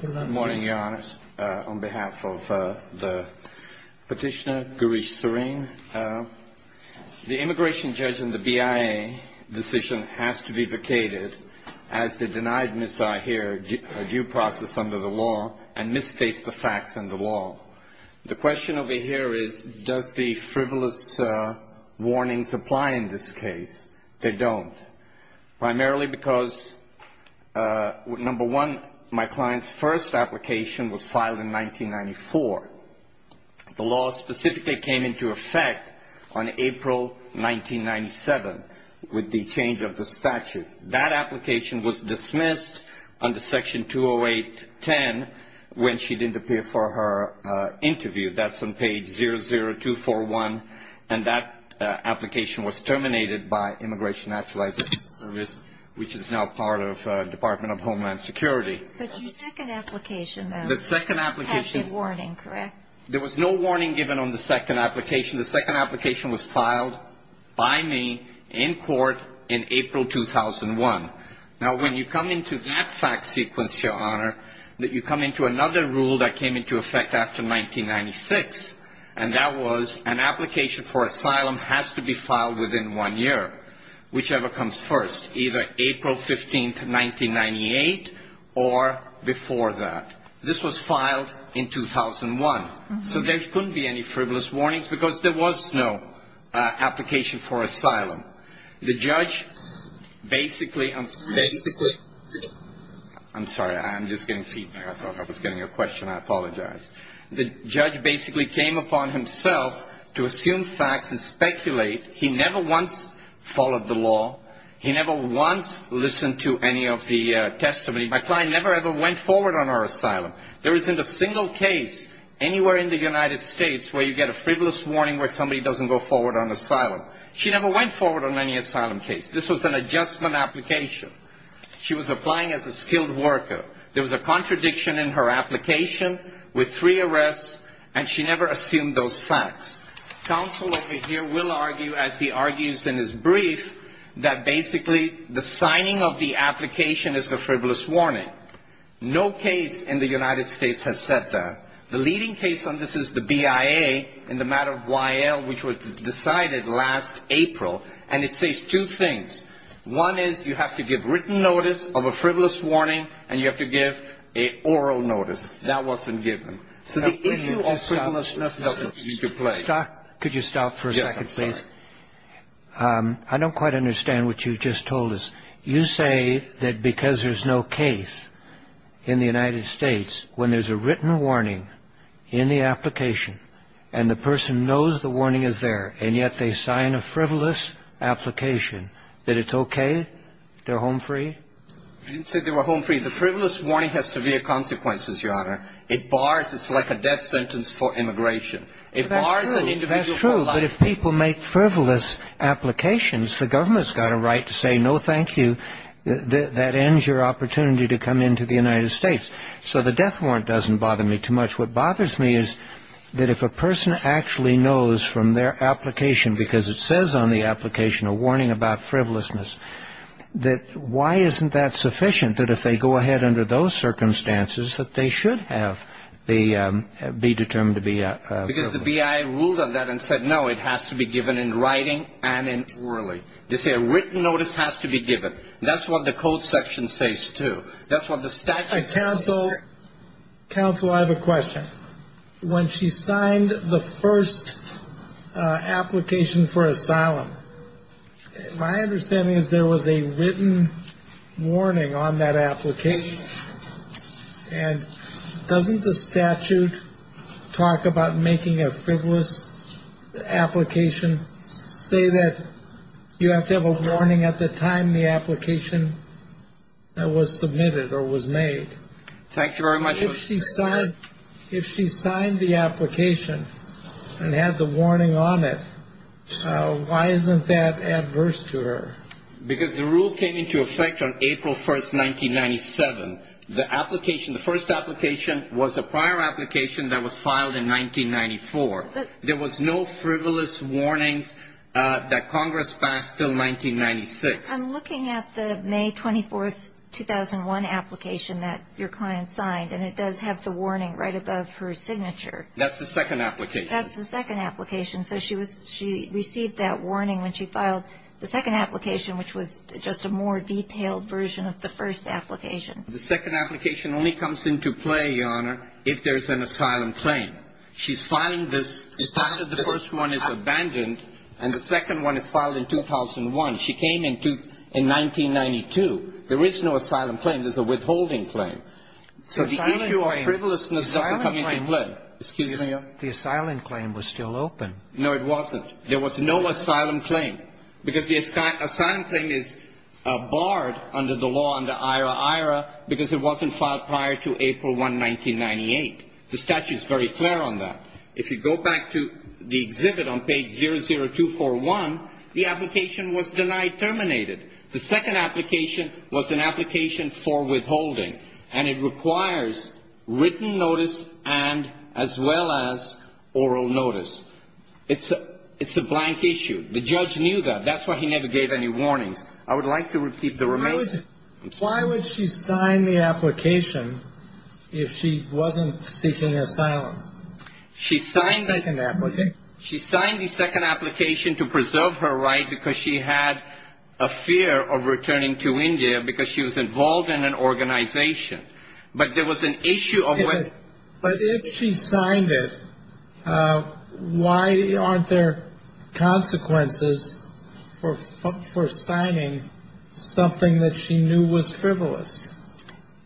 Good morning, Your Honors. On behalf of the petitioner, Girish Sareen, the immigration judge in the BIA decision has to be vacated as the denied missile here due process under the law and misstates the facts in the law. The question over here is, does the frivolous warnings apply in this case? They don't. Primarily because, number one, my client's first application was filed in 1994. The law specifically came into effect on April 1997 with the change of the statute. That application was dismissed under Section 208-10 when she didn't appear for her interview. That's on page 00241, and that application was terminated by Immigration Actualization Service, which is now part of Department of Homeland Security. The second application, though, had the warning, correct? There was no warning given on the second application. The second application was filed by me in court in April 2001. Now, when you come into that fact sequence, Your Honor, that you come into another rule that came into effect after 1996, and that was an application for asylum has to be filed within one year, whichever comes first, either April 15, 1998, or before that. This was filed in 2001. So there couldn't be any frivolous warnings because there was no application for asylum. The judge basically... Basically... I'm sorry. I'm just getting feedback. I thought I was getting a question. I apologize. The judge basically came upon himself to assume facts and speculate. He never once followed the law. He never once listened to any of the testimony. My client never ever went forward on her asylum. There isn't a single case anywhere in the United States where you get a frivolous warning where somebody doesn't go forward on asylum. She never went forward on any asylum case. This was an adjustment application. She was applying as a skilled worker. There was a contradiction in her application with three arrests, and she never assumed those facts. Counsel over here will argue, as he argues in his brief, that basically the signing of the application is a frivolous warning. No case in the United States has said that. The leading case on this is the BIA in the matter of Y.L., which was decided last April, and it says two things. One is you have to give written notice of a frivolous warning, and you have to give an oral notice. That wasn't given. So the issue of frivolousness doesn't need to play. Could you stop for a second, please? I don't quite understand what you just told us. You say that because there's no case in the United States, when there's a written warning in the application and the person knows the warning is there, and yet they sign a frivolous application, that it's OK, they're home free? I didn't say they were home free. The frivolous warning has severe consequences, Your Honor. It's like a death sentence for immigration. It bars an individual from life. That's true, but if people make frivolous applications, the government's got a right to say no, thank you. That ends your opportunity to come into the United States. So the death warrant doesn't bother me too much. What bothers me is that if a person actually knows from their application, because it says on the application a warning about frivolousness, that why isn't that sufficient, that if they go ahead under those circumstances, that they should be determined to be frivolous? Because the B.I. ruled on that and said, no, it has to be given in writing and orally. They say a written notice has to be given. That's what the code section says, too. Counsel, counsel, I have a question. When she signed the first application for asylum, my understanding is there was a written warning on that application. And doesn't the statute talk about making a frivolous application? Say that you have to have a warning at the time the application was submitted or was made. Thank you very much. If she signed the application and had the warning on it, why isn't that adverse to her? Because the rule came into effect on April 1st, 1997. The application, the first application, was a prior application that was filed in 1994. There was no frivolous warnings that Congress passed until 1996. I'm looking at the May 24th, 2001 application that your client signed, and it does have the warning right above her signature. That's the second application. That's the second application. So she received that warning when she filed the second application, which was just a more detailed version of the first application. The second application only comes into play, Your Honor, if there's an asylum claim. She's filing this. The first one is abandoned, and the second one is filed in 2001. She came in 1992. There is no asylum claim. There's a withholding claim. So the issue of frivolousness doesn't come into play. The asylum claim was still open. No, it wasn't. There was no asylum claim, because the asylum claim is barred under the law, under IRA-IRA, because it wasn't filed prior to April 1, 1998. The statute is very clear on that. If you go back to the exhibit on page 00241, the application was denied terminated. The second application was an application for withholding, and it requires written notice and as well as oral notice. It's a blank issue. The judge knew that. That's why he never gave any warnings. I would like to repeat the remainder. Why would she sign the application if she wasn't seeking asylum? She signed the second application to preserve her right because she had a fear of returning to India because she was involved in an organization. But if she signed it, why aren't there consequences for signing something that she knew was frivolous?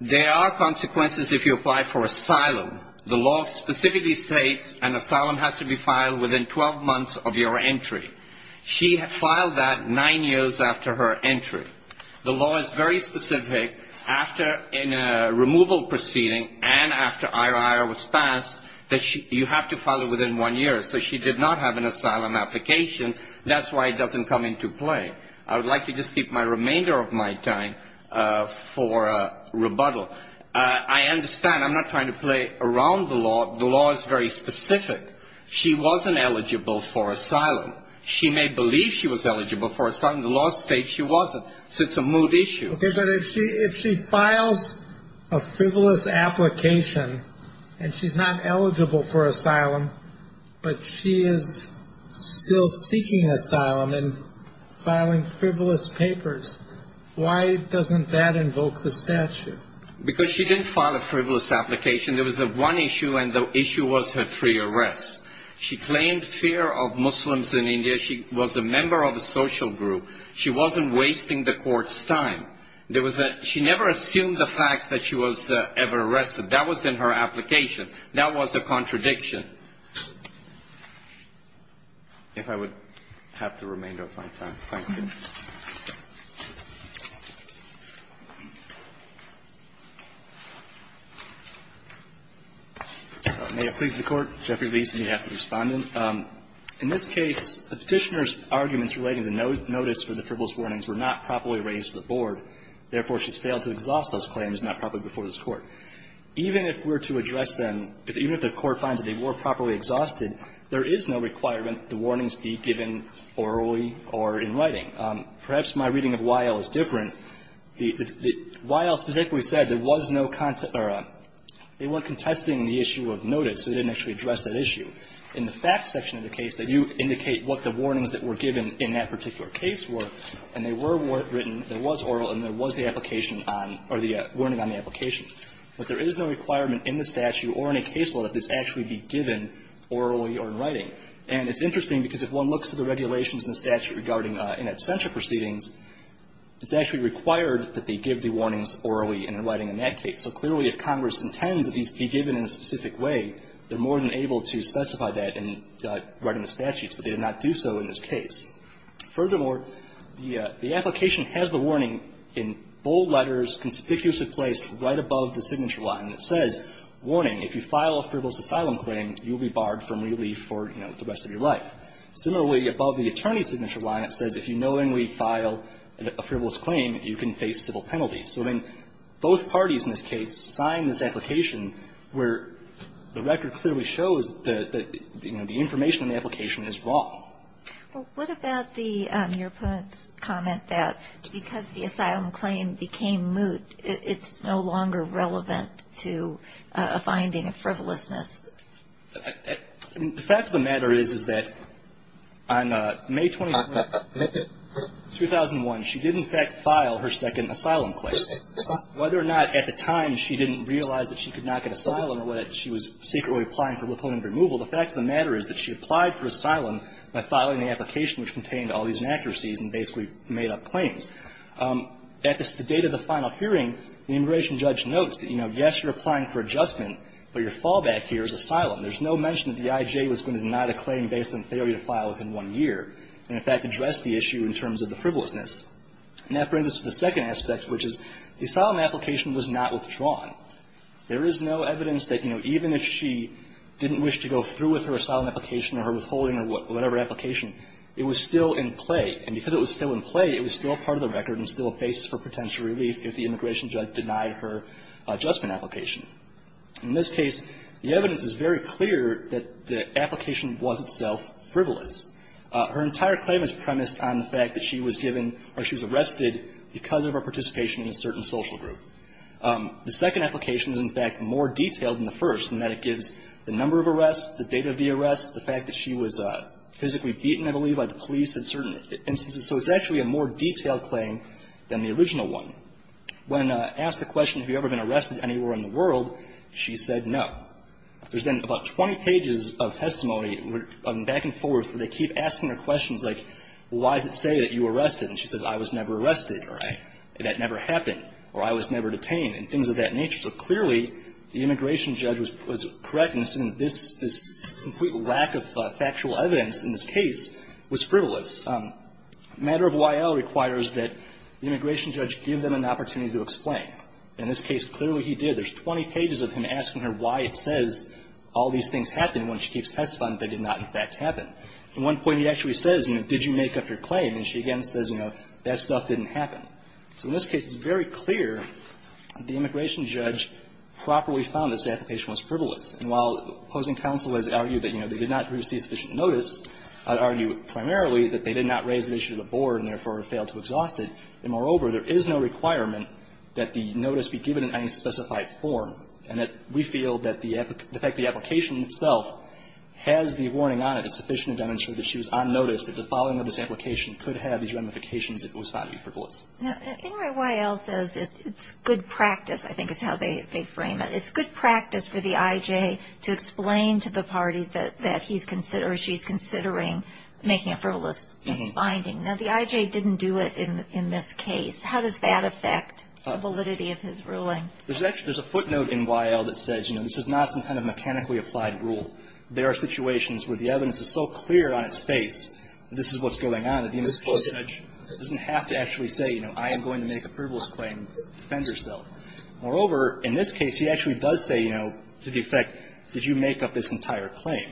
There are consequences if you apply for asylum. The law specifically states an asylum has to be filed within 12 months of your entry. She filed that nine years after her entry. The law is very specific after a removal proceeding and after IRA-IRA was passed that you have to file it within one year. So she did not have an asylum application. That's why it doesn't come into play. I would like to just keep my remainder of my time for rebuttal. I understand. I'm not trying to play around the law. The law is very specific. She may believe she was eligible for asylum. The law states she wasn't. So it's a moot issue. But if she files a frivolous application and she's not eligible for asylum, but she is still seeking asylum and filing frivolous papers, why doesn't that invoke the statute? Because she didn't file a frivolous application. There was one issue, and the issue was her free arrest. She claimed fear of Muslims in India. She was a member of a social group. She wasn't wasting the Court's time. There was a – she never assumed the fact that she was ever arrested. That was in her application. That was a contradiction. If I would have the remainder of my time. Thank you. May it please the Court. Jeffrey Lee is on behalf of the Respondent. In this case, the Petitioner's arguments relating to notice for the frivolous warnings were not properly raised to the Board. Therefore, she's failed to exhaust those claims not properly before this Court. Even if we're to address them, even if the Court finds that they were properly exhausted, there is no requirement the warnings be given orally or in writing. Perhaps my reading of Y.L. is different. The – Y.L. specifically said there was no – they weren't contesting the issue of notice, so they didn't actually address that issue. In the facts section of the case, they do indicate what the warnings that were given in that particular case were, and they were written – there was oral and there was the application on – or the warning on the application. But there is no requirement in the statute or in a case law that this actually be given orally or in writing. And it's interesting because if one looks at the regulations in the statute regarding in absentia proceedings, it's actually required that they give the warnings orally and in writing in that case. So clearly, if Congress intends that these be given in a specific way, they're more than able to specify that in writing the statutes. But they did not do so in this case. Furthermore, the application has the warning in bold letters, conspicuously placed right above the signature line. It says, warning, if you file a frivolous asylum claim, you will be barred from relief for, you know, the rest of your life. Similarly, above the attorney's signature line, it says if you knowingly file a frivolous claim, you can face civil penalties. So then both parties in this case signed this application where the record clearly shows that, you know, the information in the application is wrong. Well, what about the – your opponents comment that because the asylum claim became moot, it's no longer relevant to a finding of frivolousness? The fact of the matter is, is that on May 21, 2001, she did in fact file her second asylum claim. Whether or not at the time she didn't realize that she could not get asylum or whether she was secretly applying for withholding removal, the fact of the matter is that she applied for asylum by filing the application which contained all these inaccuracies and basically made up claims. At the date of the final hearing, the immigration judge notes that, you know, yes, you're applying for adjustment, but your fallback here is asylum. There's no mention that the IJ was going to deny the claim based on the failure to file within one year and in fact address the issue in terms of the frivolousness. And that brings us to the second aspect, which is the asylum application was not withdrawn. There is no evidence that, you know, even if she didn't wish to go through with her asylum application or her withholding or whatever application, it was still in play, and because it was still in play, it was still part of the record and still a base for potential relief if the immigration judge denied her adjustment application. In this case, the evidence is very clear that the application was itself frivolous. Her entire claim is premised on the fact that she was given or she was arrested because of her participation in a certain social group. The second application is in fact more detailed than the first in that it gives the number of arrests, the date of the arrest, the fact that she was physically beaten, I believe, by the police in certain instances. So it's actually a more detailed claim than the original one. When asked the question, have you ever been arrested anywhere in the world, she said no. There's then about 20 pages of testimony, back and forth, where they keep asking her questions like, why does it say that you were arrested, and she says, I was never arrested, or that never happened, or I was never detained, and things of that nature. So clearly, the immigration judge was correct in saying this complete lack of factual evidence in this case was frivolous. Matter of OIL requires that the immigration judge give them an opportunity to explain. In this case, clearly he did. There's 20 pages of him asking her why it says all these things happened when she keeps testifying that they did not, in fact, happen. At one point, he actually says, you know, did you make up your claim, and she again says, you know, that stuff didn't happen. So in this case, it's very clear the immigration judge properly found this application was frivolous, and while opposing counsel has argued that, you know, they did not receive sufficient notice, I'd argue primarily that they did not raise the issue to the board and therefore failed to exhaust it. And moreover, there is no requirement that the notice be given in any specified form, and that we feel that the fact the application itself has the warning on it is sufficient to demonstrate that she was on notice that the following of this application could have these ramifications if it was found to be frivolous. Now, in your OIL says it's good practice, I think is how they frame it. It's good practice for the IJ to explain to the parties that he's considering or she's considering making a frivolous finding. Now, the IJ didn't do it in this case. How does that affect the validity of his ruling? There's a footnote in OIL that says, you know, this is not some kind of mechanically applied rule. There are situations where the evidence is so clear on its face that this is what's going on that the individual judge doesn't have to actually say, you know, I am going to make a frivolous claim to defend herself. Moreover, in this case, he actually does say, you know, to the effect, did you make up this entire claim?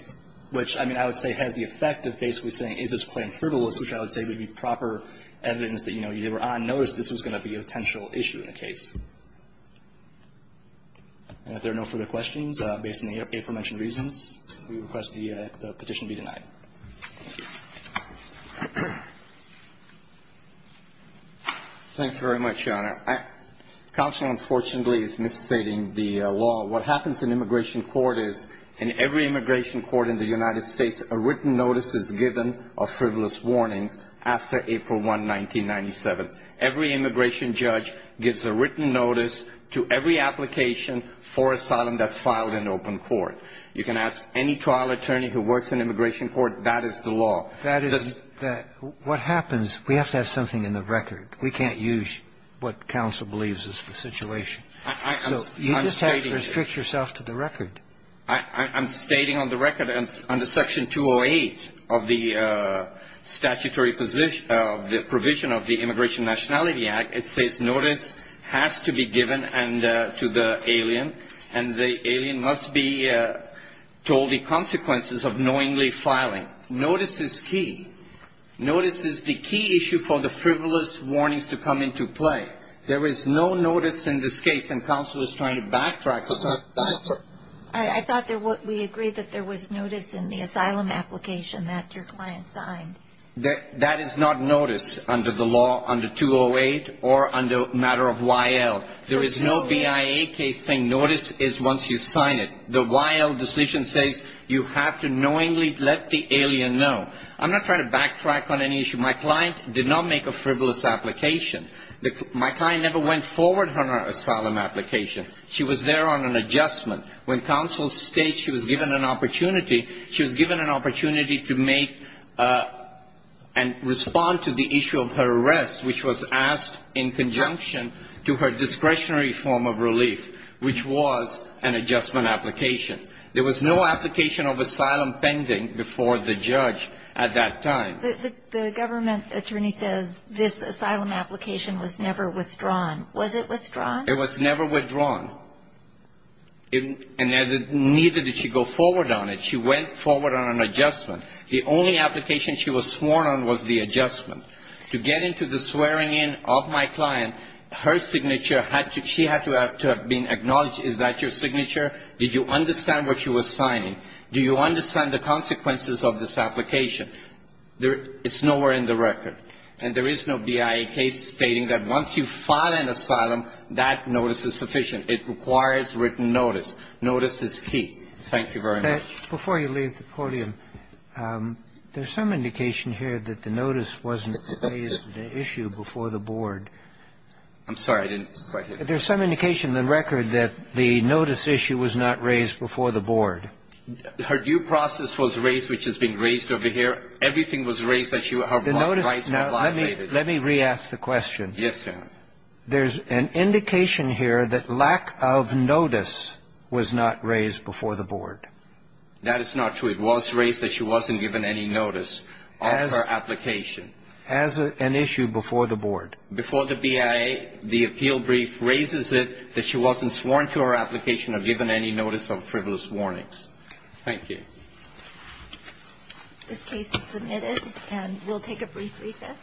Which, I mean, I would say has the effect of basically saying, is this claim frivolous, which I would say would be proper evidence that, you know, you were on notice this was going to be a potential issue in the case. And if there are no further questions, based on the aforementioned reasons, we request the petition be denied. Thank you. Thank you very much, Your Honor. Counsel, unfortunately, is misstating the law. What happens in immigration court is in every immigration court in the United States, a written notice is given of frivolous warnings after April 1, 1997. Every immigration judge gives a written notice to every application for asylum that's filed in open court. You can ask any trial attorney who works in immigration court. That is the law. That is the law. What happens, we have to have something in the record. We can't use what counsel believes is the situation. So you just have to restrict yourself to the record. I'm stating on the record under Section 208 of the statutory provision of the Immigration Nationality Act, it says notice has to be given to the alien, and the alien must be told the consequences of knowingly filing. Notice is key. Notice is the key issue for the frivolous warnings to come into play. There is no notice in this case, and counsel is trying to backtrack. I thought we agreed that there was notice in the asylum application that your client signed. That is not notice under the law under 208 or under matter of YL. There is no BIA case saying notice is once you sign it. The YL decision says you have to knowingly let the alien know. I'm not trying to backtrack on any issue. My client did not make a frivolous application. My client never went forward on her asylum application. She was there on an adjustment. When counsel states she was given an opportunity, she was given an opportunity to make and respond to the issue of her arrest, which was asked in conjunction to her discretionary form of relief, which was an adjustment application. There was no application of asylum pending before the judge at that time. The government attorney says this asylum application was never withdrawn. Was it withdrawn? It was never withdrawn. And neither did she go forward on it. She went forward on an adjustment. The only application she was sworn on was the adjustment. To get into the swearing in of my client, her signature had to be acknowledged. Is that your signature? Did you understand what you were signing? Do you understand the consequences of this application? It's nowhere in the record. And there is no BIA case stating that once you file an asylum, that notice is sufficient. It requires written notice. Notice is key. Thank you very much. Before you leave the podium, there's some indication here that the notice wasn't raised, the issue, before the board. I'm sorry. I didn't quite hear you. There's some indication in the record that the notice issue was not raised before the board. Her due process was raised, which is being raised over here. Everything was raised that you have rightfully violated. Let me re-ask the question. Yes, Your Honor. There's an indication here that lack of notice was not raised before the board. That is not true. It was raised that she wasn't given any notice of her application. As an issue before the board. Before the BIA, the appeal brief raises it that she wasn't sworn to her application or given any notice of frivolous warnings. Thank you. This case is submitted, and we'll take a brief recess.